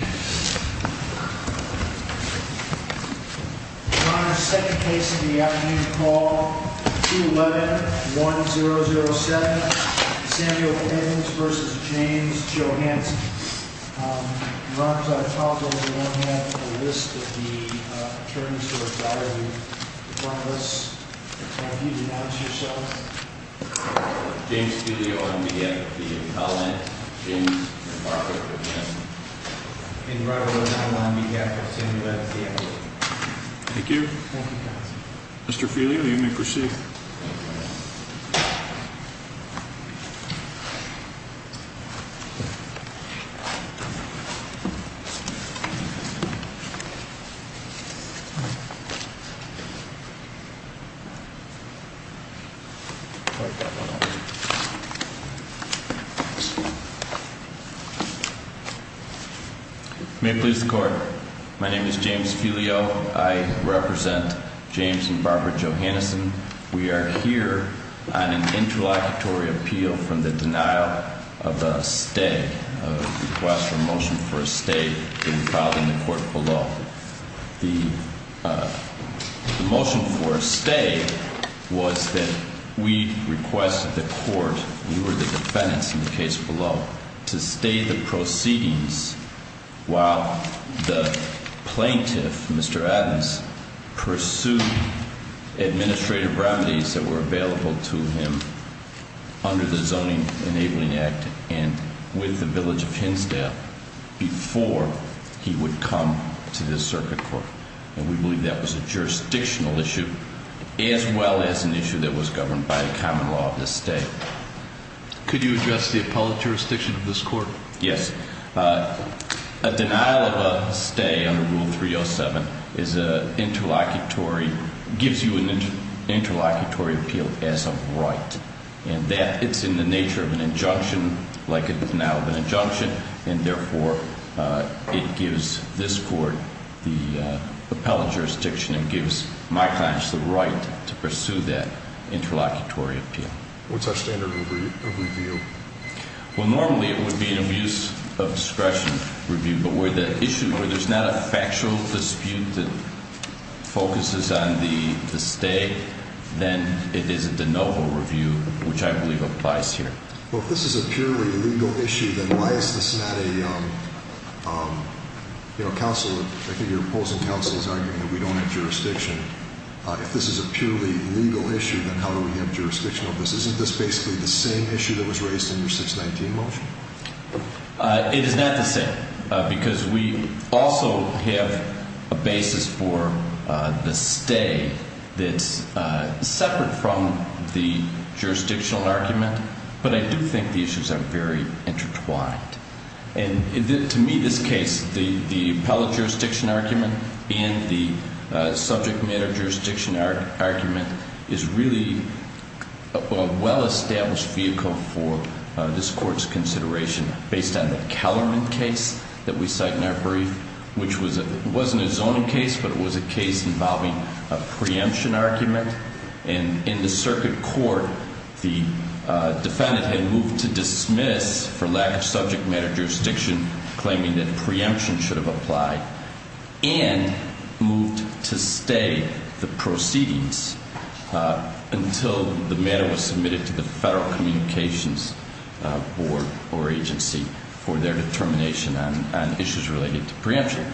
Your Honor, second case of the afternoon, call 211-1007, Samuel Eddins v. James Johannesen. Your Honor, as I recall, we all have a list of the attorneys who are valuing one of us. If you would announce yourselves. James Filio on behalf of the appellant, James, and Robert. And Robert O'Donnell on behalf of Samuel Eddins. Thank you. Thank you, counsel. Mr. Filio, you may proceed. May it please the court. My name is James Filio. I represent James and Barbara Johannesen. We are here on an interlocutory appeal from the denial of a stay, a request for a motion for a stay to be filed in the court below. The motion for a stay was that we requested the court, we were the defendants in the case below, to stay the proceedings while the plaintiff, Mr. Eddins, pursued administrative remedies that were available to him under the Zoning Enabling Act and with the village of Hinsdale before he would come to this circuit court. And we believe that was a jurisdictional issue as well as an issue that was governed by the common law of this stay. Could you address the appellate jurisdiction of this court? Yes. A denial of a stay under Rule 307 is an interlocutory, gives you an interlocutory appeal as a right. And that, it's in the nature of an injunction, like a denial of an injunction, and therefore it gives this court the appellate jurisdiction and gives my clients the right to pursue that interlocutory appeal. What's our standard of review? Well, normally it would be an abuse of discretion review. But where the issue, where there's not a factual dispute that focuses on the stay, then it is a de novo review, which I believe applies here. Well, if this is a purely legal issue, then why is this not a, you know, counsel, I think your opposing counsel is arguing that we don't have jurisdiction. If this is a purely legal issue, then how do we have jurisdiction over this? Isn't this basically the same issue that was raised in your 619 motion? It is not the same, because we also have a basis for the stay that's separate from the jurisdictional argument. But I do think the issues are very intertwined. And to me, this case, the appellate jurisdiction argument and the subject matter jurisdiction argument is really a well-established vehicle for this court's consideration, based on the Kellerman case that we cite in our brief, which wasn't a zoning case, but it was a case involving a preemption argument. And in the circuit court, the defendant had moved to dismiss for lack of subject matter jurisdiction, claiming that preemption should have applied, and moved to stay the proceedings until the matter was submitted to the Federal Communications Board or agency for their determination on issues related to preemption.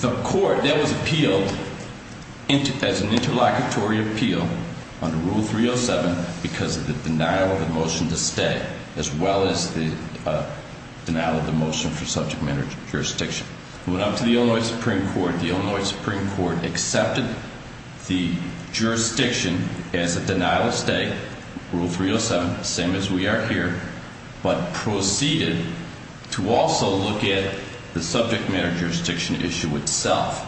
The court, that was appealed as an interlocutory appeal under Rule 307 because of the denial of the motion to stay, as well as the denial of the motion for subject matter jurisdiction. It went up to the Illinois Supreme Court. The Illinois Supreme Court accepted the jurisdiction as a denial of stay, Rule 307, the same as we are here, but proceeded to also look at the subject matter jurisdiction issue itself,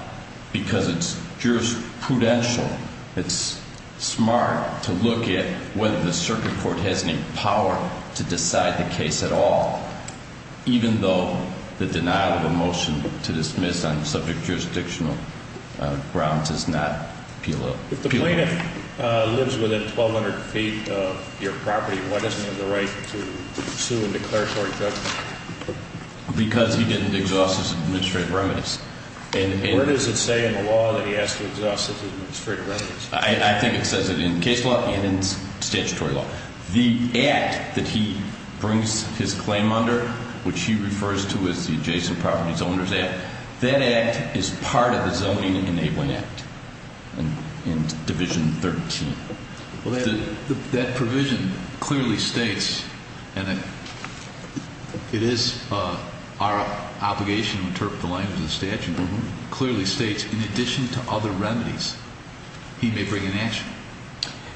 because it's jurisprudential. It's smart to look at whether the circuit court has any power to decide the case at all, even though the denial of a motion to dismiss on subject jurisdictional grounds is not appealable. If the plaintiff lives within 1,200 feet of your property, why doesn't he have the right to sue and declare short judgment? Because he didn't exhaust his administrative remedies. And what does it say in the law that he has to exhaust his administrative remedies? I think it says it in case law and in statutory law. The act that he brings his claim under, which he refers to as the Adjacent Property Zoners Act, that act is part of the Zoning Enabling Act in Division 13. That provision clearly states, and it is our obligation to interpret the language of the statute, clearly states in addition to other remedies, he may bring an action.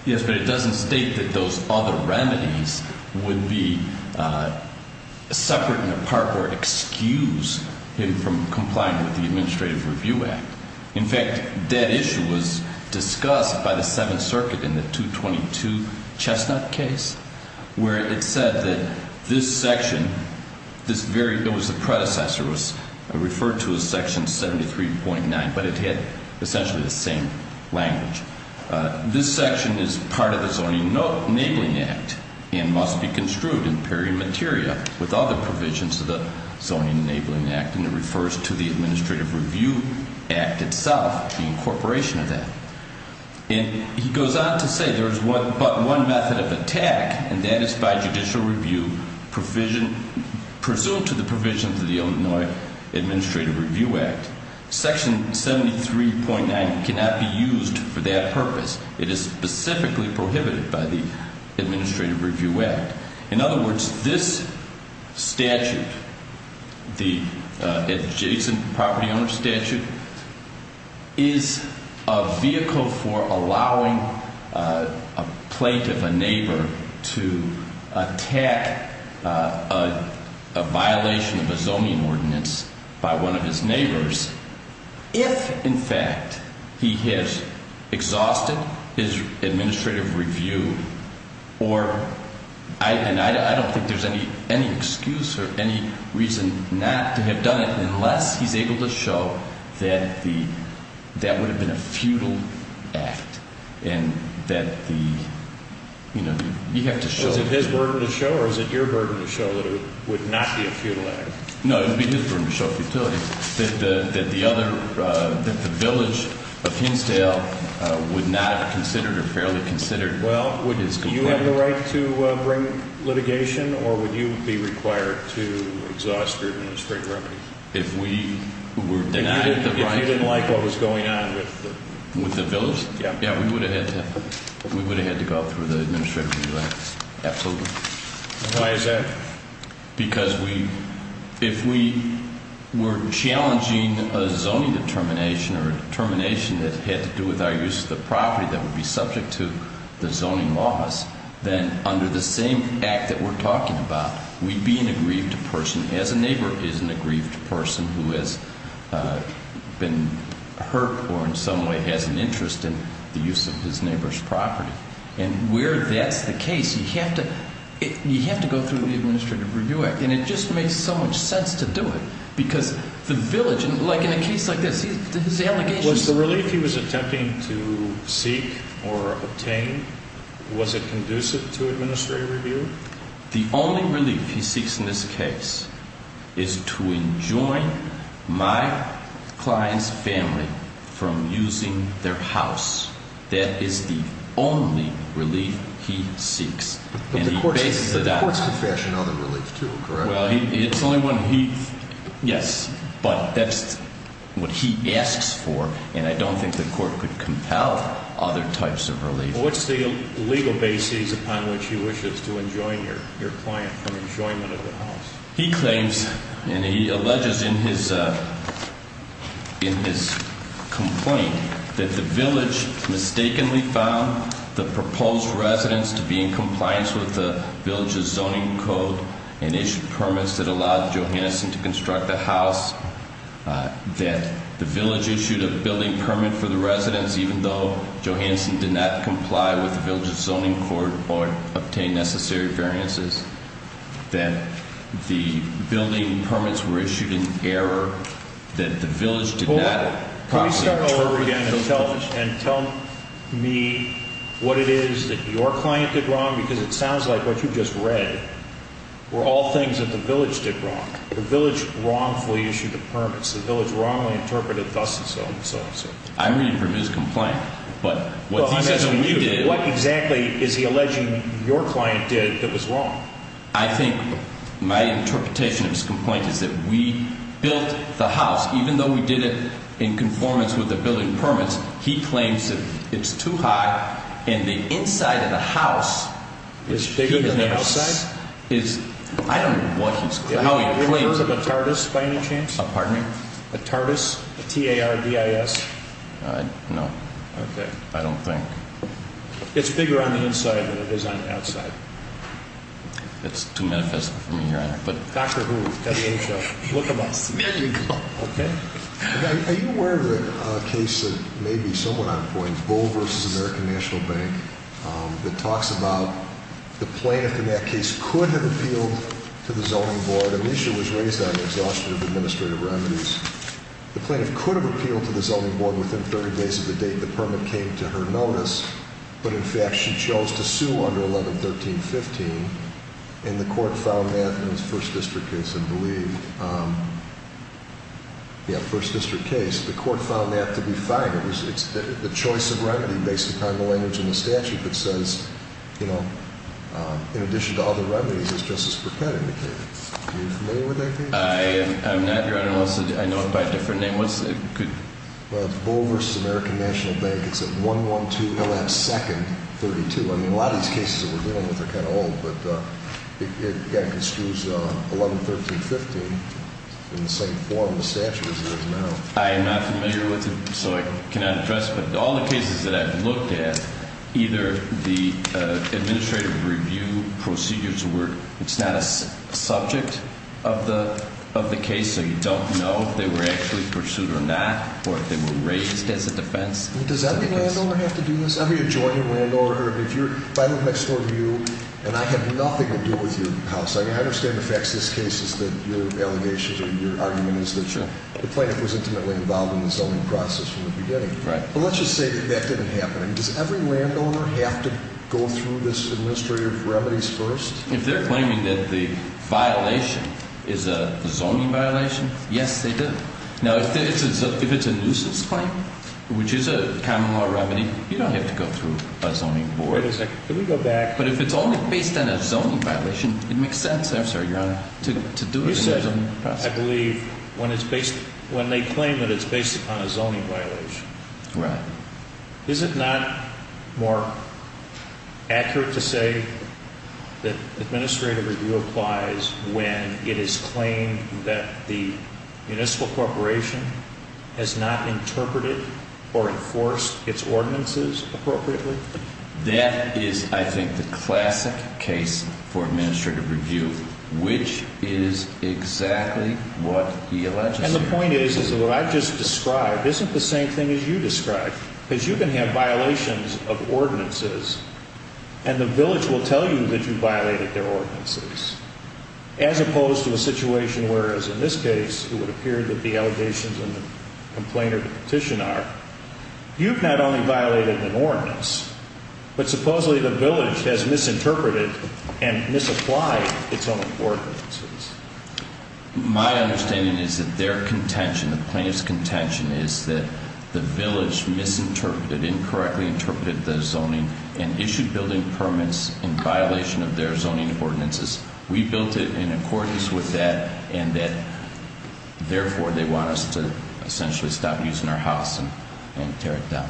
Yes, but it doesn't state that those other remedies would be separate and apart or excuse him from complying with the Administrative Review Act. In fact, that issue was discussed by the Seventh Circuit in the 222 Chestnut case, where it said that this section, this very, it was the predecessor, was referred to as Section 73.9, but it had essentially the same language. This section is part of the Zoning Enabling Act and must be construed in peri materia with other provisions of the Zoning Enabling Act, and it refers to the Administrative Review Act itself, the incorporation of that. And he goes on to say there is but one method of attack, and that is by judicial review presumed to the provision of the Illinois Administrative Review Act. Section 73.9 cannot be used for that purpose. It is specifically prohibited by the Administrative Review Act. In other words, this statute, the adjacent property owner statute, is a vehicle for allowing a plaintiff, a neighbor, to attack a violation of a zoning ordinance by one of his neighbors if, in fact, he has exhausted his administrative review or, and I don't think there's any excuse or any reason not to have done it unless he's able to show that the, that would have been a futile act and that the, you know, you have to show. Is it his burden to show or is it your burden to show that it would not be a futile act? No, it would be his burden to show futility, that the other, that the village of Hinsdale would not have considered or fairly considered his complaint. Well, would you have the right to bring litigation or would you be required to exhaust your administrative remedy? If we were denied the right. If he didn't like what was going on with the. With the village? Yeah. Yeah, we would have had to, we would have had to go through the Administrative Review Act, absolutely. Why is that? Because we, if we were challenging a zoning determination or a determination that had to do with our use of the property that would be subject to the zoning laws, then under the same act that we're talking about, we'd be an aggrieved person as a neighbor is an aggrieved person who has been hurt or in some way has an interest in the use of his neighbor's property. And where that's the case, you have to, you have to go through the Administrative Review Act. And it just makes so much sense to do it because the village, like in a case like this, his allegations. Was the relief he was attempting to seek or obtain, was it conducive to administrative review? The only relief he seeks in this case is to enjoin my client's family from using their house. That is the only relief he seeks. But the courts can fashion other relief too, correct? Well, it's only when he, yes, but that's what he asks for. And I don't think the court could compel other types of relief. What's the legal basis upon which he wishes to enjoin your client from enjoyment of the house? He claims and he alleges in his complaint that the village mistakenly found the proposed residence to be in compliance with the village's zoning code and issued permits that allowed Johansson to construct the house. That the village issued a building permit for the residence even though Johansson did not comply with the village's zoning code or obtain necessary variances. That the building permits were issued in error. That the village did not properly- Can we start over again and tell me what it is that your client did wrong? Because it sounds like what you just read were all things that the village did wrong. The village wrongfully issued the permits. The village wrongly interpreted thus and so and so and so. I'm reading from his complaint, but what he says we did- What exactly is he alleging your client did that was wrong? I think my interpretation of his complaint is that we built the house, even though we did it in conformance with the building permits. He claims that it's too high and the inside of the house- Is bigger than the outside? I don't know what he's- Have you ever heard of a TARDIS by any chance? Pardon me? A TARDIS? A T-A-R-D-I-S? No. Okay. I don't think. It's bigger on the inside than it is on the outside. That's too manifest for me, Your Honor. Dr. Who, WHO, look him up. Medical. Okay? Are you aware of a case that may be somewhat on point, Bull v. American National Bank, that talks about the plaintiff in that case could have appealed to the zoning board. Amicia was raised on exhaustion of administrative remedies. The plaintiff could have appealed to the zoning board within 30 days of the date the permit came to her notice, but in fact she chose to sue under 11-13-15, and the court found that in the first district case, I believe. Yeah, first district case. The court found that to be fine. It's the choice of remedy based upon the language in the statute that says, you know, in addition to other remedies, as Justice Burkett indicated. Are you familiar with that case? I am not, Your Honor. I know it by a different name. What's it? Well, it's Bull v. American National Bank. It's at 112 L.F. 2nd, 32. I mean, a lot of these cases that we're dealing with are kind of old, but it kind of construes 11-13-15 in the same form the statute is using now. I am not familiar with it, so I cannot address it, but all the cases that I've looked at, either the administrative review procedures were – it's not a subject of the case, so you don't know if they were actually pursued or not or if they were raised as a defense. Does every landowner have to do this? Every adjoining landowner or if you're – if I look next door to you, and I have nothing to do with your house, I understand the facts of this case is that your allegations or your argument is that the plaintiff was intimately involved in the zoning process from the beginning. Right. But let's just say that that didn't happen. Does every landowner have to go through this administrative remedies first? If they're claiming that the violation is a zoning violation, yes, they do. Now, if it's a nuisance claim, which is a common law remedy, you don't have to go through a zoning board. Wait a second. Can we go back? But if it's only based on a zoning violation, it makes sense – I'm sorry, Your Honor. – to do it in a zoning process. You said, I believe, when it's based – when they claim that it's based upon a zoning violation. Right. Is it not more accurate to say that administrative review applies when it is claimed that the municipal corporation has not interpreted or enforced its ordinances appropriately? That is, I think, the classic case for administrative review, which is exactly what he alleges. And the point is that what I just described isn't the same thing as you described, because you can have violations of ordinances, and the village will tell you that you violated their ordinances, as opposed to a situation where, as in this case, it would appear that the allegations in the complaint or the petition are, you've not only violated an ordinance, but supposedly the village has misinterpreted and misapplied its own ordinances. My understanding is that their contention, the plaintiff's contention, is that the village misinterpreted, incorrectly interpreted the zoning and issued building permits in violation of their zoning ordinances. We built it in accordance with that, and that therefore they want us to essentially stop using our house and tear it down.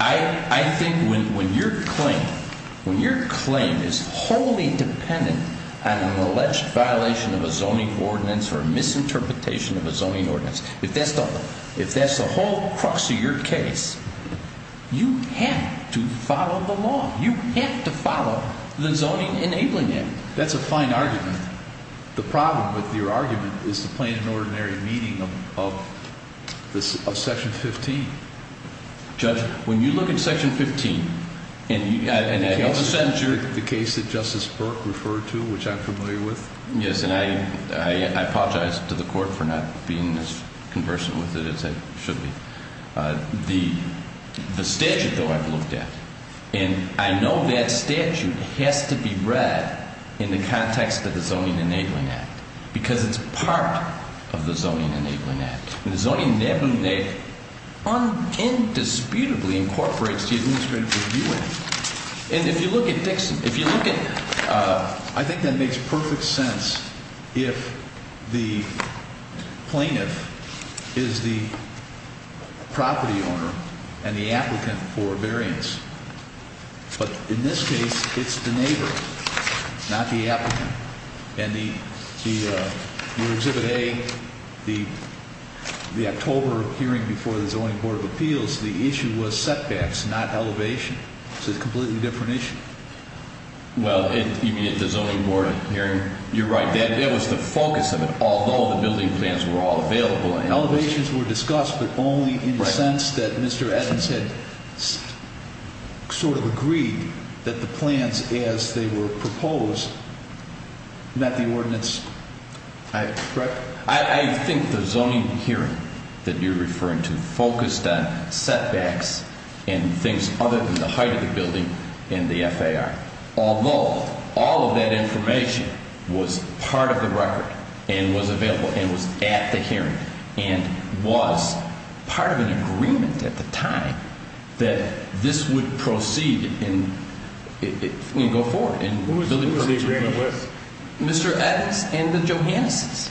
I think when your claim is wholly dependent on an alleged violation of a zoning ordinance or a misinterpretation of a zoning ordinance, if that's the whole crux of your case, you have to follow the law. You have to follow the Zoning Enabling Act. That's a fine argument. The problem with your argument is the plain and ordinary meaning of Section 15. Judge, when you look at Section 15, and I know the sentencer— The case that Justice Burke referred to, which I'm familiar with. Yes, and I apologize to the Court for not being as conversant with it as I should be. The statute, though, I've looked at, and I know that statute has to be read in the context of the Zoning Enabling Act because it's part of the Zoning Enabling Act. The Zoning Enabling Act indisputably incorporates the Administrative Review Act. And if you look at Dixon, if you look at— But in this case, it's the neighbor, not the applicant. And your Exhibit A, the October hearing before the Zoning Board of Appeals, the issue was setbacks, not elevation. It's a completely different issue. Well, you mean at the Zoning Board hearing? You're right. That was the focus of it, although the building plans were all available. Elevations were discussed, but only in the sense that Mr. Eddins had sort of agreed that the plans, as they were proposed, met the ordinance. I think the zoning hearing that you're referring to focused on setbacks and things other than the height of the building and the FAR, although all of that information was part of the record and was available and was at the hearing and was part of an agreement at the time that this would proceed and go forward. Who was the agreement with? Mr. Eddins and the Johannesses.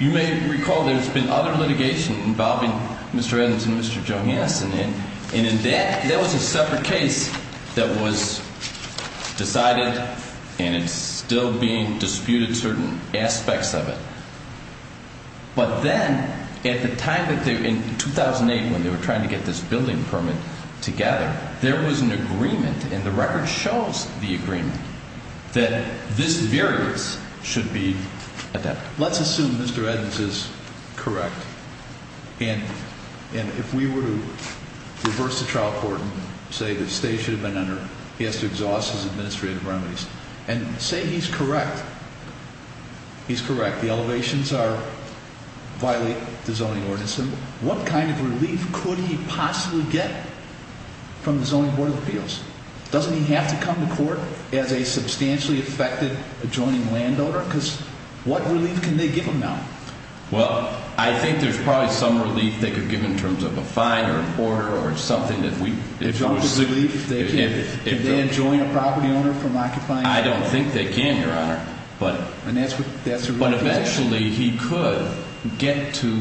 You may recall there's been other litigation involving Mr. Eddins and Mr. Johannessen, and that was a separate case that was decided and it's still being disputed certain aspects of it. But then, at the time, in 2008, when they were trying to get this building permit together, there was an agreement, and the record shows the agreement, that this variance should be adapted. Let's assume Mr. Eddins is correct, and if we were to reverse the trial court and say the state should have been under, he has to exhaust his administrative remedies, and say he's correct, he's correct, the elevations violate the zoning ordinance, what kind of relief could he possibly get from the Zoning Board of Appeals? Doesn't he have to come to court as a substantially affected adjoining landowner? Because what relief can they give him now? Well, I think there's probably some relief they could give in terms of a fine or an order or something that we... In terms of relief, could they adjoin a property owner from occupying it? I don't think they can, Your Honor. But eventually he could get to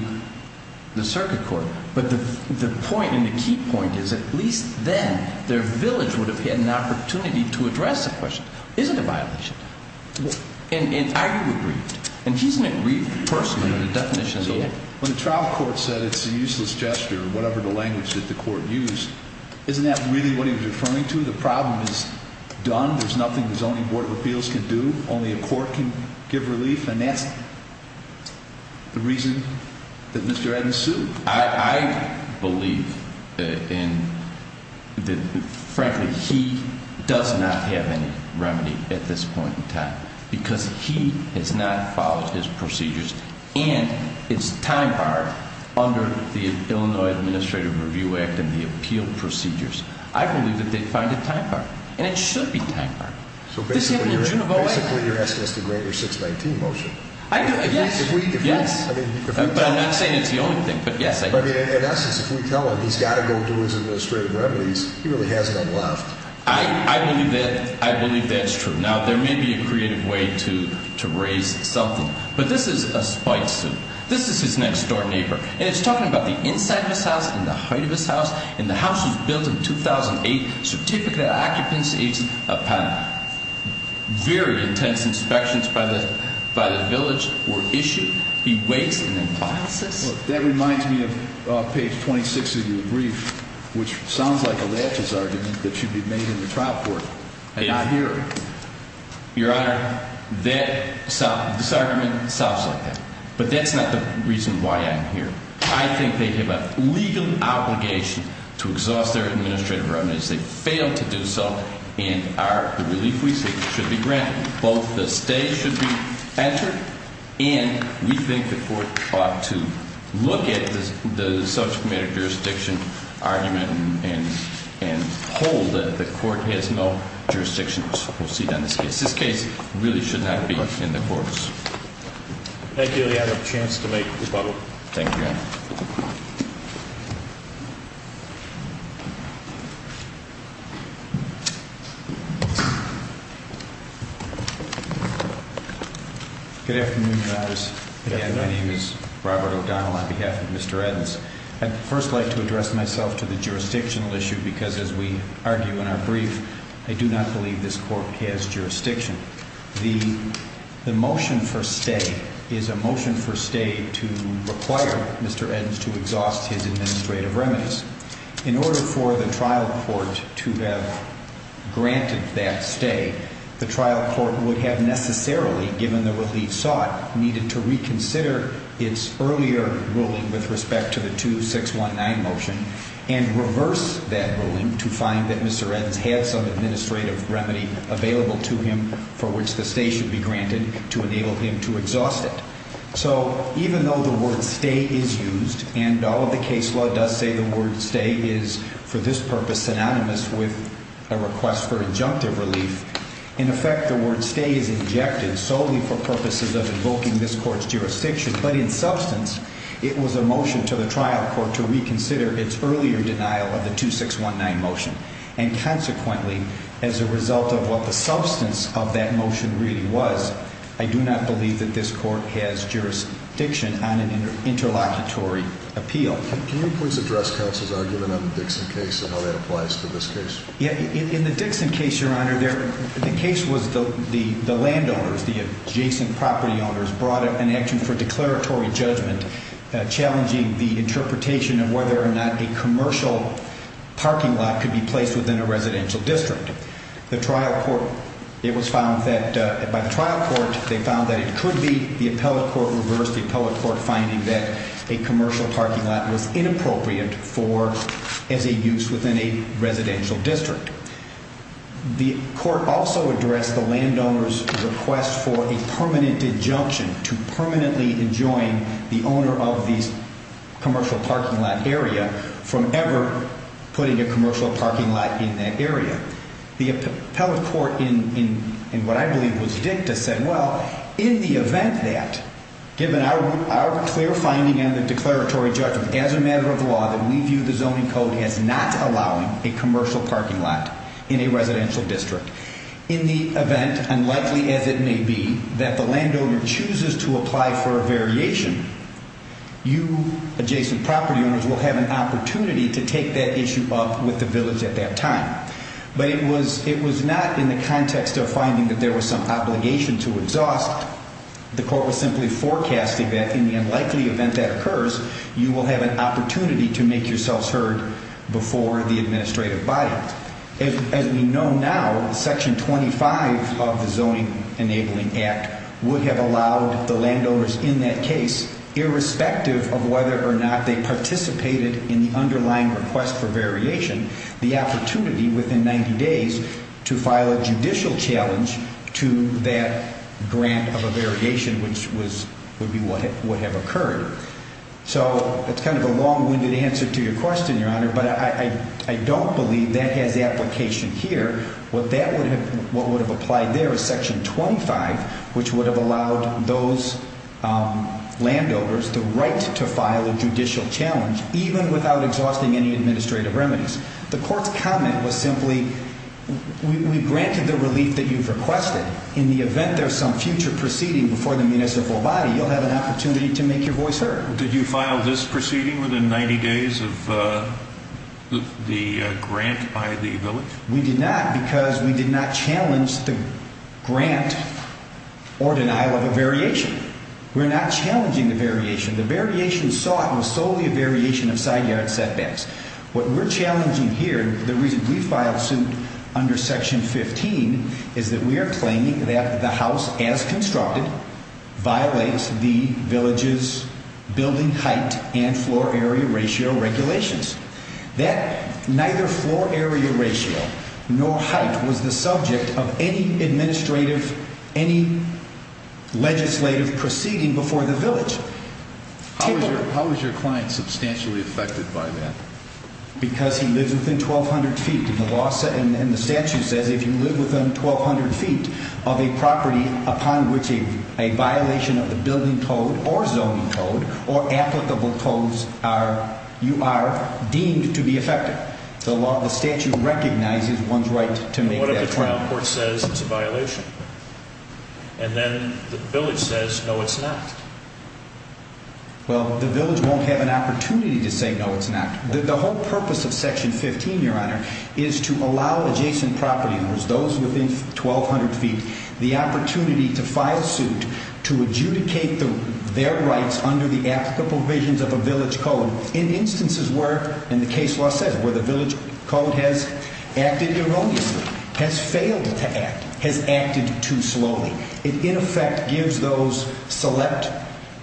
the circuit court. But the point, and the key point, is at least then, their village would have had an opportunity to address the question, is it a violation? And are you aggrieved? And he's an aggrieved person by the definition of the word. When the trial court said it's a useless gesture, whatever the language that the court used, isn't that really what he was referring to? The problem is done. There's nothing the Zoning Board of Appeals can do. Only a court can give relief. And that's the reason that Mr. Adams sued. I believe that, frankly, he does not have any remedy at this point in time because he has not followed his procedures. And it's time-barred under the Illinois Administrative Review Act and the appeal procedures. I believe that they find it time-barred. And it should be time-barred. So basically you're asking us to grant your 619 motion. Yes. But I'm not saying it's the only thing, but yes. In essence, if we tell him he's got to go do his administrative remedies, he really has none left. I believe that's true. Now, there may be a creative way to raise something. But this is a spite suit. This is his next-door neighbor. And it's talking about the inside of his house and the height of his house and the house he built in 2008, certificate of occupancy, a panel. Very intense inspections by the village were issued. He waits and then files this. That reminds me of page 26 of your brief, which sounds like a laches argument that should be made in the trial court. I hear it. Your Honor, this argument sounds like that. But that's not the reason why I'm here. I think they have a legal obligation to exhaust their administrative remedies. They failed to do so. And the relief we seek should be granted. Both the stay should be entered. And we think the court ought to look at the subsequent jurisdiction argument and hold that the court has no jurisdiction to proceed on this case. This case really should not be in the courts. Thank you, Your Honor. I have a chance to make rebuttal. Thank you, Your Honor. Good afternoon, Your Honors. Again, my name is Robert O'Donnell on behalf of Mr. Edens. I'd first like to address myself to the jurisdictional issue because, as we argue in our brief, I do not believe this court has jurisdiction. The motion for stay is a motion for stay to require Mr. Edens to exhaust his administrative remedies. In order for the trial court to have granted that stay, the trial court would have necessarily, given the relief sought, needed to reconsider its earlier ruling with respect to the 2619 motion and reverse that ruling to find that Mr. Edens had some administrative remedy available to him for which the stay should be granted to enable him to exhaust it. So even though the word stay is used, and all of the case law does say the word stay is, for this purpose, synonymous with a request for injunctive relief, in effect the word stay is injected solely for purposes of invoking this court's jurisdiction. But in substance, it was a motion to the trial court to reconsider its earlier denial of the 2619 motion. And consequently, as a result of what the substance of that motion really was, I do not believe that this court has jurisdiction on an interlocutory appeal. Can you please address counsel's argument on the Dixon case and how that applies to this case? In the Dixon case, Your Honor, the case was the landowners, the adjacent property owners, brought an action for declaratory judgment challenging the interpretation of whether or not a commercial parking lot could be placed within a residential district. The trial court, it was found that by the trial court, they found that it could be the appellate court reversed the appellate court finding that a commercial parking lot was inappropriate for as a use within a residential district. The court also addressed the landowner's request for a permanent injunction to permanently enjoin the owner of the commercial parking lot area from ever putting a commercial parking lot in that area. The appellate court in what I believe was dicta said, well, in the event that, given our clear finding in the declaratory judgment as a matter of law, then we view the zoning code as not allowing a commercial parking lot in a residential district. In the event, unlikely as it may be, that the landowner chooses to apply for a variation, you, adjacent property owners, will have an opportunity to take that issue up with the village at that time. But it was not in the context of finding that there was some obligation to exhaust. The court was simply forecasting that in the unlikely event that occurs, you will have an opportunity to make yourselves heard before the administrative body. As we know now, Section 25 of the Zoning Enabling Act would have allowed the landowners in that case, irrespective of whether or not they participated in the underlying request for variation, the opportunity within 90 days to file a judicial challenge to that grant of a variation, which would have occurred. So it's kind of a long-winded answer to your question, Your Honor, but I don't believe that has application here. What would have applied there is Section 25, which would have allowed those landowners the right to file a judicial challenge, even without exhausting any administrative remedies. The court's comment was simply, we granted the relief that you've requested. In the event there's some future proceeding before the municipal body, you'll have an opportunity to make your voice heard. Did you file this proceeding within 90 days of the grant by the village? We did not because we did not challenge the grant or denial of a variation. We're not challenging the variation. The variation sought was solely a variation of side yard setbacks. What we're challenging here, the reason we filed suit under Section 15, is that we are claiming that the house, as constructed, violates the village's building height and floor area ratio regulations. That neither floor area ratio nor height was the subject of any administrative, any legislative proceeding before the village. How is your client substantially affected by that? Because he lives within 1,200 feet. And the statute says if you live within 1,200 feet of a property upon which a violation of the building code or zoning code or applicable codes are, you are deemed to be affected. The statute recognizes one's right to make that claim. What if the trial court says it's a violation? And then the village says, no, it's not. Well, the village won't have an opportunity to say, no, it's not. The whole purpose of Section 15, Your Honor, is to allow adjacent property owners, those within 1,200 feet, the opportunity to file suit to adjudicate their rights under the applicable provisions of a village code in instances where, and the case law says, where the village code has acted erroneously, has failed to act, has acted too slowly. It, in effect, gives those select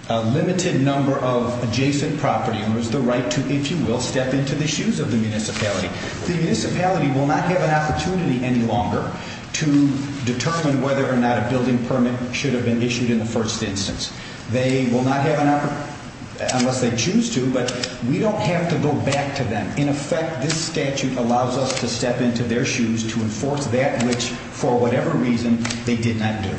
a limited number of adjacent property owners the right to, if you will, step into the shoes of the municipality. The municipality will not have an opportunity any longer to determine whether or not a building permit should have been issued in the first instance. They will not have an opportunity unless they choose to, but we don't have to go back to them. In effect, this statute allows us to step into their shoes to enforce that which, for whatever reason, they did not do.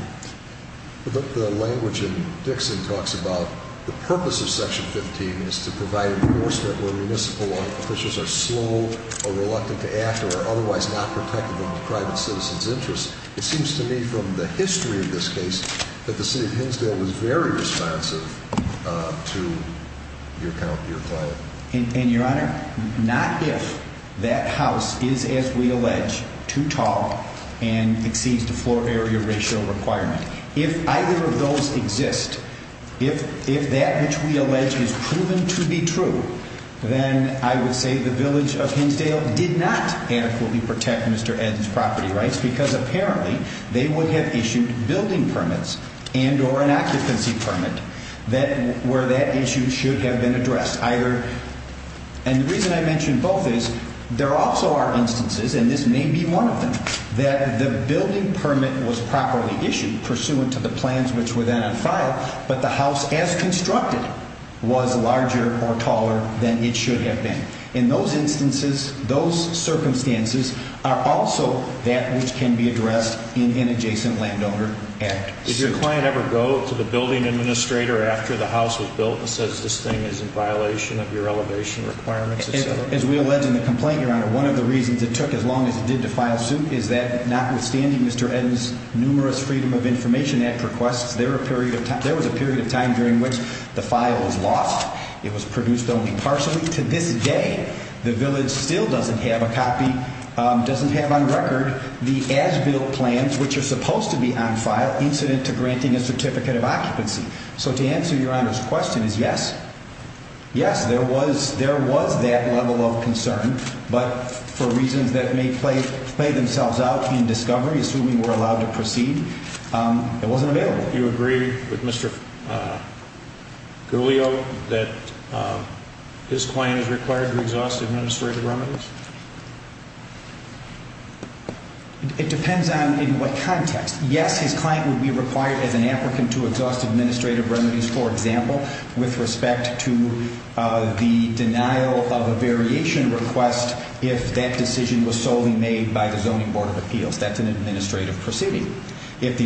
But the language in Dixon talks about the purpose of Section 15 is to provide enforcement where municipal officers are slow or reluctant to act or are otherwise not protected in the private citizen's interest. It seems to me from the history of this case that the city of Hinsdale was very responsive to your plan. And, Your Honor, not if that house is, as we allege, too tall and exceeds the floor area ratio requirement. If either of those exist, if that which we allege is proven to be true, then I would say the village of Hinsdale did not adequately protect Mr. Ed's property rights because apparently they would have issued building permits and or an occupancy permit where that issue should have been addressed. And the reason I mention both is there also are instances, and this may be one of them, that the building permit was properly issued pursuant to the plans which were then on file, but the house as constructed was larger or taller than it should have been. In those instances, those circumstances are also that which can be addressed in an Adjacent Landowner Act suit. Did your client ever go to the building administrator after the house was built and says this thing is in violation of your elevation requirements? As we allege in the complaint, Your Honor, one of the reasons it took as long as it did to file suit is that notwithstanding Mr. Ed's numerous Freedom of Information Act requests, there was a period of time during which the file was lost. It was produced only partially. To this day, the village still doesn't have a copy, doesn't have on record the as-built plans which are supposed to be on file incident to granting a certificate of occupancy. So to answer Your Honor's question is yes, yes, there was that level of concern, but for reasons that may play themselves out in discovery, assuming we're allowed to proceed, it wasn't available. Do you agree with Mr. Guglio that his claim is required to exhaust administrative remedies? It depends on in what context. Yes, his claim would be required as an applicant to exhaust administrative remedies, for example, with respect to the denial of a variation request if that decision was solely made by the Zoning Board of Appeals. That's an administrative proceeding. But if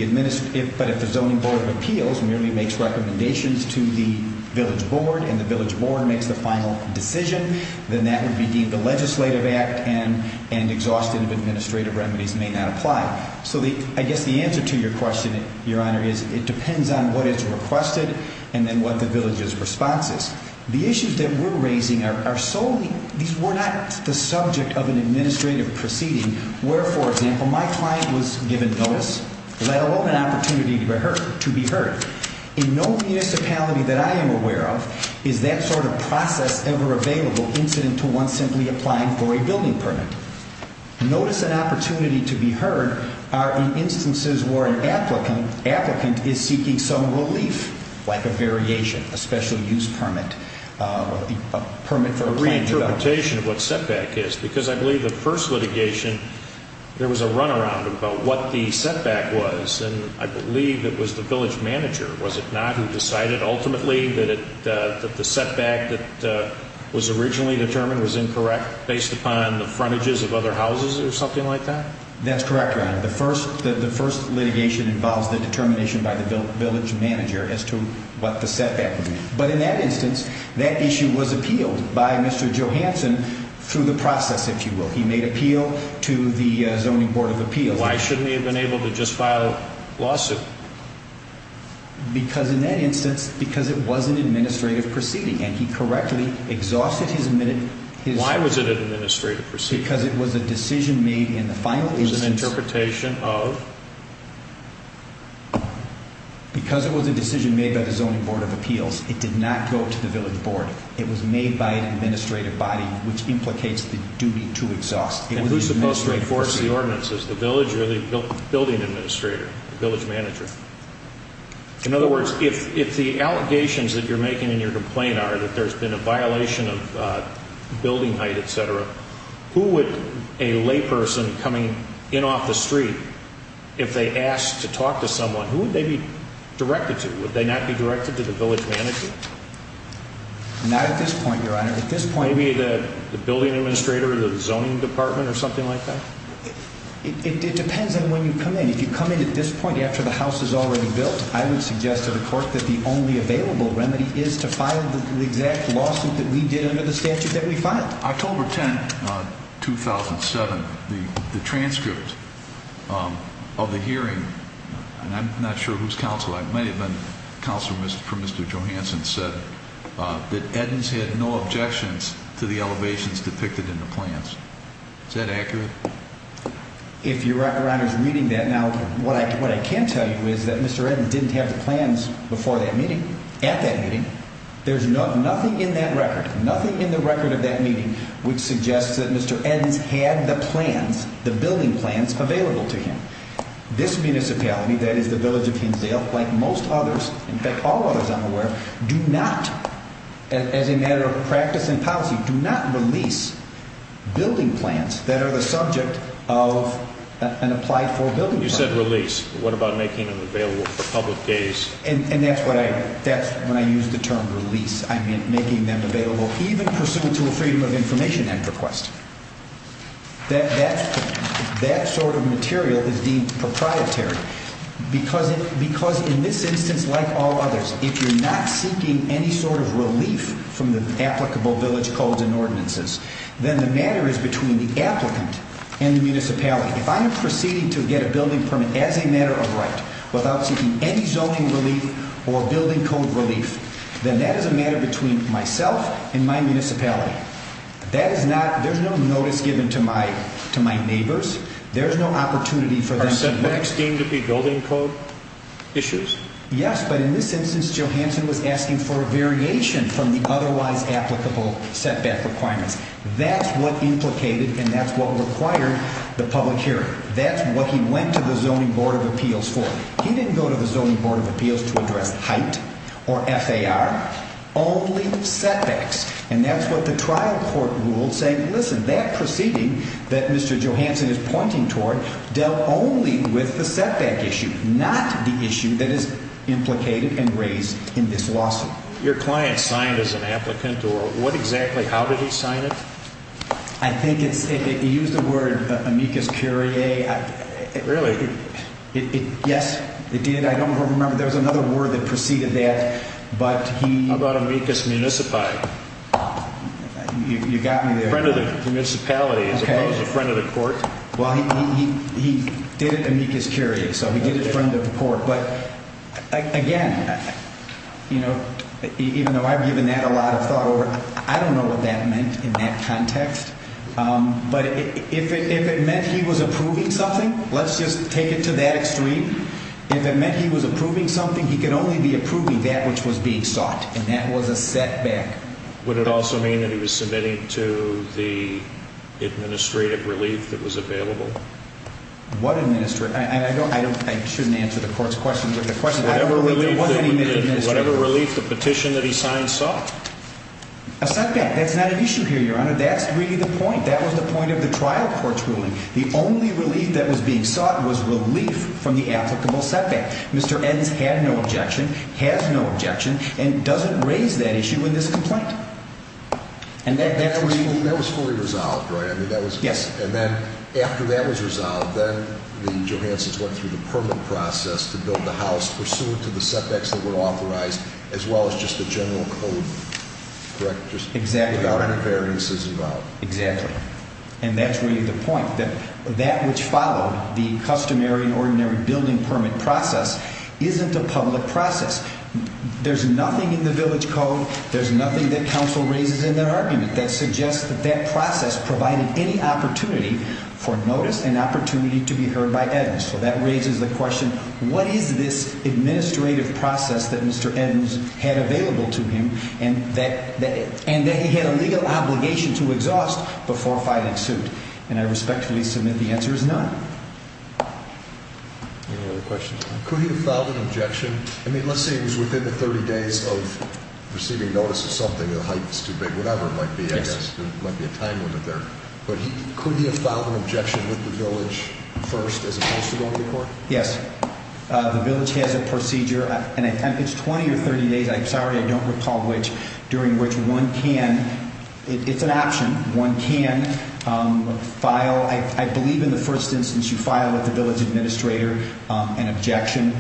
the Zoning Board of Appeals merely makes recommendations to the village board and the village board makes the final decision, then that would be deemed the legislative act and exhaustive administrative remedies may not apply. So I guess the answer to your question, Your Honor, is it depends on what is requested and then what the village's response is. The issues that we're raising are solely – these were not the subject of an administrative proceeding where, for example, my client was given notice, let alone an opportunity to be heard. In no municipality that I am aware of is that sort of process ever available incident to one simply applying for a building permit. Notice and opportunity to be heard are in instances where an applicant is seeking some relief like a variation, a special use permit, a permit for a planning development. A reinterpretation of what setback is because I believe the first litigation there was a runaround about what the setback was and I believe it was the village manager, was it not, who decided ultimately that the setback that was originally determined was incorrect based upon the frontages of other houses or something like that? That's correct, Your Honor. The first litigation involves the determination by the village manager as to what the setback was. But in that instance, that issue was appealed by Mr. Johanson through the process, if you will. He made appeal to the Zoning Board of Appeals. Why shouldn't he have been able to just file a lawsuit? Because in that instance, because it was an administrative proceeding and he correctly exhausted his minute. Why was it an administrative proceeding? Because it was a decision made in the final instance. It was an interpretation of? Because it was a decision made by the Zoning Board of Appeals. It did not go to the village board. It was made by an administrative body, which implicates the duty to exhaust. And who's supposed to enforce the ordinances, the village or the building administrator, the village manager? In other words, if the allegations that you're making in your complaint are that there's been a violation of building height, etc., who would a layperson coming in off the street, if they asked to talk to someone, who would they be directed to? Would they not be directed to the village manager? Not at this point, Your Honor. Maybe the building administrator of the zoning department or something like that? It depends on when you come in. If you come in at this point after the house is already built, I would suggest to the court that the only available remedy is to file the exact lawsuit that we did under the statute that we filed. October 10, 2007, the transcript of the hearing, and I'm not sure whose counsel, it might have been counsel for Mr. Johanson, said that Eddins had no objections to the elevations depicted in the plans. Is that accurate? If you're reading that now, what I can tell you is that Mr. Eddins didn't have the plans before that meeting, at that meeting. There's nothing in that record, nothing in the record of that meeting, which suggests that Mr. Eddins had the plans, the building plans, available to him. This municipality, that is the village of Hinsdale, like most others, in fact, all others I'm aware of, do not, as a matter of practice and policy, do not release building plans that are the subject of an applied for building plan. You said release. What about making them available for public days? And that's when I used the term release. I meant making them available even pursuant to a Freedom of Information Act request. That sort of material is deemed proprietary because in this instance, like all others, if you're not seeking any sort of relief from the applicable village codes and ordinances, then the matter is between the applicant and the municipality. If I am proceeding to get a building permit as a matter of right, without seeking any zoning relief or building code relief, then that is a matter between myself and my municipality. That is not, there's no notice given to my neighbors. There's no opportunity for them to... Are setbacks deemed to be building code issues? Yes, but in this instance, Johansson was asking for a variation from the otherwise applicable setback requirements. That's what implicated and that's what required the public hearing. That's what he went to the Zoning Board of Appeals for. He didn't go to the Zoning Board of Appeals to address height or FAR, only setbacks. And that's what the trial court ruled saying, listen, that proceeding that Mr. Johansson is pointing toward dealt only with the setback issue, not the issue that is implicated and raised in this lawsuit. Your client signed as an applicant or what exactly, how did he sign it? I think it's, he used the word amicus curiae. Really? Yes, it did. I don't remember, there was another word that preceded that, but he... How about amicus municipi? You got me there. Friend of the municipality as opposed to friend of the court. Well, he did it amicus curiae, so he did it friend of the court. But again, you know, even though I've given that a lot of thought over, I don't know what that meant in that context. But if it meant he was approving something, let's just take it to that extreme. If it meant he was approving something, he could only be approving that which was being sought, and that was a setback. Would it also mean that he was submitting to the administrative relief that was available? What administrative, I shouldn't answer the court's question, but the question I believe there was an administrative... Whatever relief, the petition that he signed sought? A setback, that's not an issue here, Your Honor, that's really the point. That was the point of the trial court's ruling. The only relief that was being sought was relief from the applicable setback. Mr. Edens had no objection, has no objection, and doesn't raise that issue in this complaint. And that was fully resolved, right? Yes. And then after that was resolved, then the Johansons went through the permit process to build the house, pursuant to the setbacks that were authorized, as well as just the general code, correct? Exactly. Without any variances involved. Exactly. And that's really the point, that that which followed, the customary and ordinary building permit process, isn't a public process. There's nothing in the village code, there's nothing that counsel raises in their argument, that suggests that that process provided any opportunity for notice and opportunity to be heard by Edens. So that raises the question, what is this administrative process that Mr. Edens had available to him, and that he had a legal obligation to exhaust before filing suit? And I respectfully submit the answer is none. Any other questions? Could he have filed an objection? I mean, let's say it was within the 30 days of receiving notice of something, the height was too big, whatever it might be, I guess, there might be a time limit there. But could he have filed an objection with the village first, as opposed to going to court? Yes. The village has a procedure, and it's 20 or 30 days, I'm sorry, I don't recall which, during which one can, it's an option, one can file, I believe in the first instance you file with the village administrator an objection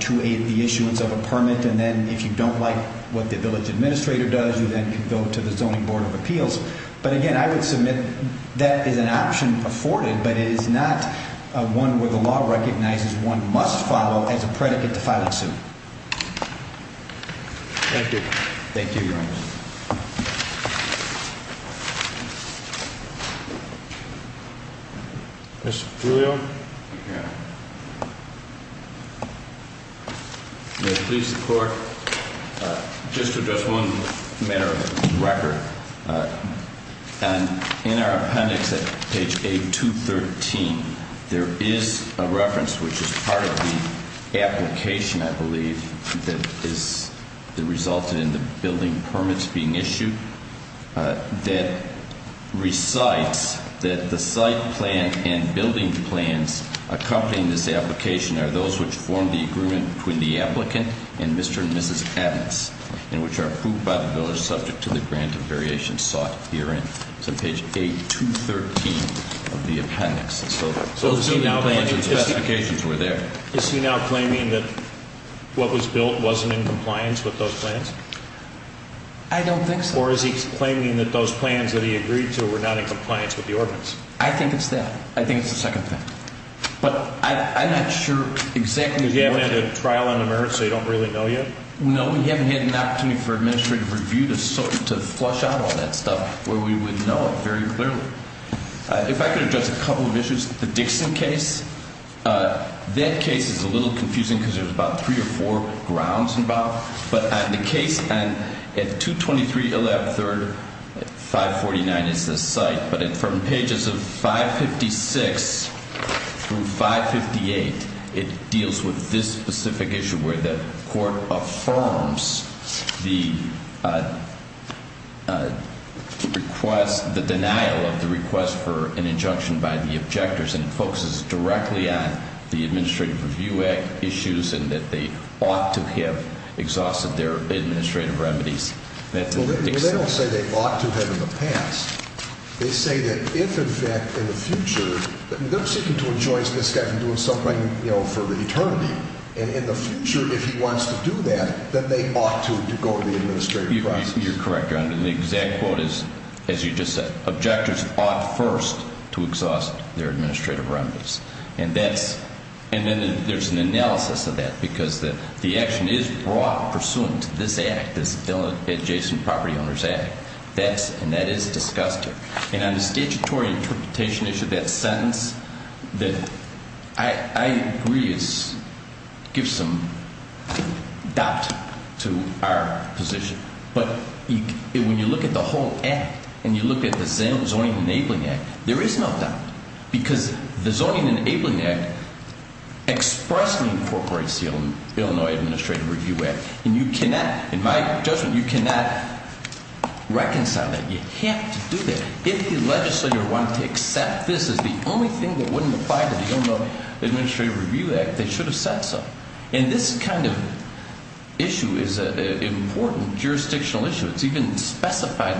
to the issuance of a permit, and then if you don't like what the village administrator does, you then can go to the Zoning Board of Appeals. But again, I would submit that is an option afforded, but it is not one where the law recognizes one must follow as a predicate to filing suit. Thank you. Thank you, Your Honor. Mr. Julio? Thank you, Your Honor. May it please the Court, just to address one matter of record, and in our appendix at page A213, there is a reference which is part of the application, I believe, that is, that resulted in the building permits being issued, that recites that the site plan and building plans accompanying this application are those which form the agreement between the applicant and Mr. and Mrs. Evans, and which are approved by the village subject to the grant of variation sought herein. So page A213 of the appendix. So those are the plans and specifications were there. Is he now claiming that what was built wasn't in compliance with those plans? I don't think so. Or is he claiming that those plans that he agreed to were not in compliance with the ordinance? I think it's that. I think it's the second thing. But I'm not sure exactly. You haven't had a trial on the merits, so you don't really know yet? No, we haven't had an opportunity for administrative review to flush out all that stuff where we would know it very clearly. If I could address a couple of issues, the Dixon case, that case is a little confusing because there's about three or four grounds involved, but the case at 223 113, 549 is the site, but from pages of 556 through 558, it deals with this specific issue where the court affirms the request, the denial of the request for an injunction by the objectors, and it focuses directly on the administrative review issues and that they ought to have exhausted their administrative remedies. Well, they don't say they ought to have in the past. They say that if, in fact, in the future, they're seeking to enjoy this guy from doing something, you know, for eternity, and in the future, if he wants to do that, then they ought to go to the administrative process. You're correct, Your Honor. The exact quote is, as you just said, objectors ought first to exhaust their administrative remedies. And then there's an analysis of that because the action is brought pursuant to this Act, this Adjacent Property Owners Act, and that is discussed here. And on the statutory interpretation issue, that sentence, I agree it gives some doubt to our position, but when you look at the whole Act and you look at the Zoning Enabling Act, there is no doubt because the Zoning Enabling Act expressly incorporates the Illinois Administrative Review Act, and you cannot, in my judgment, you cannot reconcile that. You have to do that. If the legislature wanted to accept this as the only thing that wouldn't apply to the Illinois Administrative Review Act, they should have said so. And this kind of issue is an important jurisdictional issue. It's even specified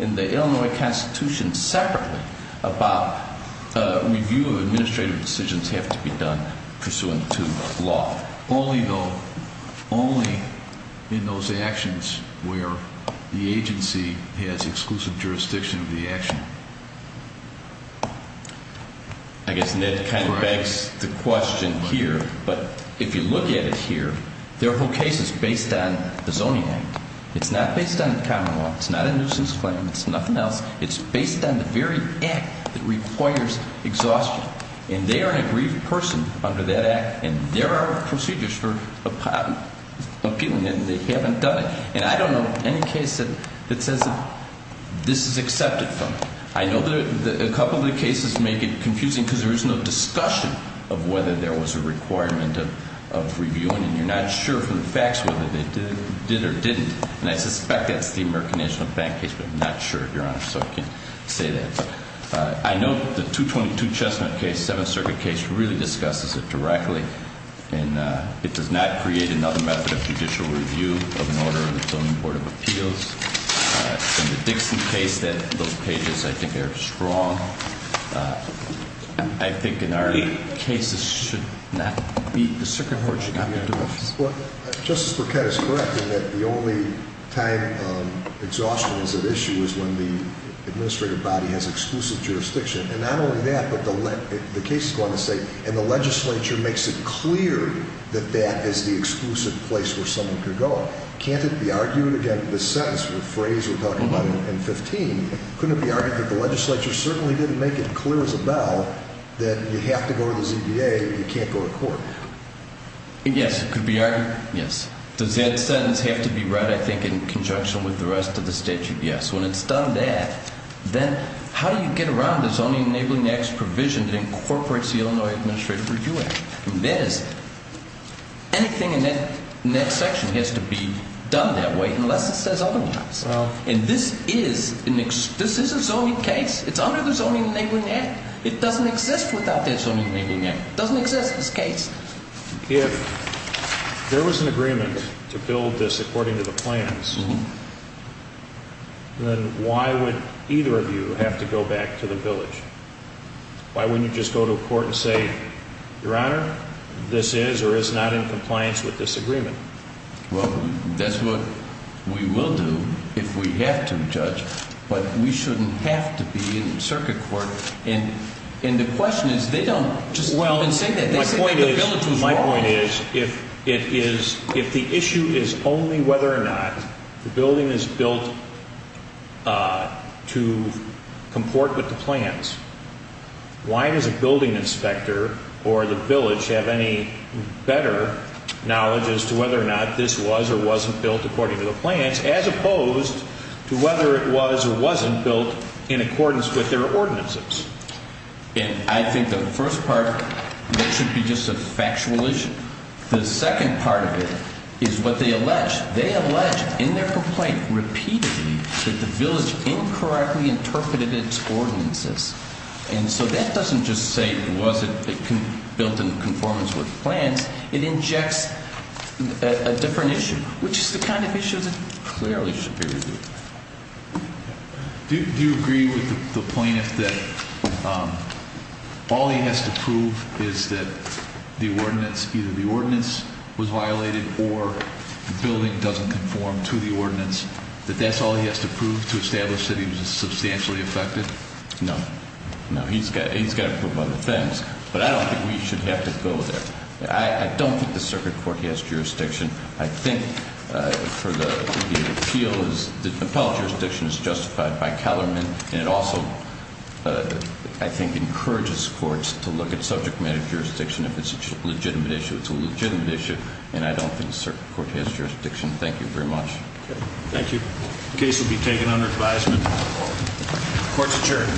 in the Illinois Constitution separately about review of administrative decisions have to be done pursuant to law. Only though, only in those actions where the agency has exclusive jurisdiction of the action. I guess Ned kind of begs the question here, but if you look at it here, their whole case is based on the Zoning Act. It's not based on common law. It's not a nuisance claim. It's nothing else. It's based on the very Act that requires exhaustion, and they are an aggrieved person under that Act, and there are procedures for appealing, and they haven't done it. And I don't know of any case that says this is accepted from it. I know that a couple of the cases make it confusing because there is no discussion of whether there was a requirement of reviewing, and you're not sure from the facts whether they did or didn't. And I suspect that's the American National Bank case, but I'm not sure, Your Honor, so I can't say that. I know the 222 Chestnut case, Seventh Circuit case, really discusses it directly, and it does not create another method of judicial review of an order of the Zoning Board of Appeals. In the Dixon case, those pages, I think, are strong. I think in our case, this should not be, the circuit board should not be doing this. Well, Justice Burkett is correct in that the only time exhaustion is at issue is when the administrative body has exclusive jurisdiction. And not only that, but the case is going to say, and the legislature makes it clear that that is the exclusive place where someone could go. Can't it be argued against this sentence, the phrase we're talking about in 15? Couldn't it be argued that the legislature certainly didn't make it clear as a bell that you have to go to the ZBA, you can't go to court? Yes, it could be argued. Yes. Does that sentence have to be read, I think, in conjunction with the rest of the statute? Yes. When it's done that, then how do you get around the Zoning Enabling Acts provision that incorporates the Illinois Administrative Review Act? That is, anything in that section has to be done that way unless it says otherwise. And this is a zoning case. It's under the Zoning Enabling Act. It doesn't exist without that Zoning Enabling Act. It doesn't exist as a case. If there was an agreement to build this according to the plans, then why would either of you have to go back to the village? Why wouldn't you just go to court and say, Your Honor, this is or is not in compliance with this agreement? Well, that's what we will do if we have to, Judge, but we shouldn't have to be in circuit court. And the question is, they don't just go and say that. They say that the village was wrong. My point is, if the issue is only whether or not the building is built to comport with the plans, why does a building inspector or the village have any better knowledge as to whether or not this was or wasn't built according to the plans, as opposed to whether it was or wasn't built in accordance with their ordinances? And I think the first part, that should be just a factual issue. The second part of it is what they allege. They allege in their complaint repeatedly that the village incorrectly interpreted its ordinances. And so that doesn't just say it wasn't built in conformance with the plans. It injects a different issue, which is the kind of issue that clearly should be reviewed. Do you agree with the plaintiff that all he has to prove is that the ordinance, either the ordinance was violated or the building doesn't conform to the ordinance, that that's all he has to prove to establish that he was substantially affected? No. No, he's got to prove other things. But I don't think we should have to go there. I don't think the circuit court has jurisdiction. I think for the appeal, the appellate jurisdiction is justified by Kellerman, and it also, I think, encourages courts to look at subject matter jurisdiction. If it's a legitimate issue, it's a legitimate issue, and I don't think the circuit court has jurisdiction. Thank you very much. Thank you. The case will be taken under advisement. Court's adjourned.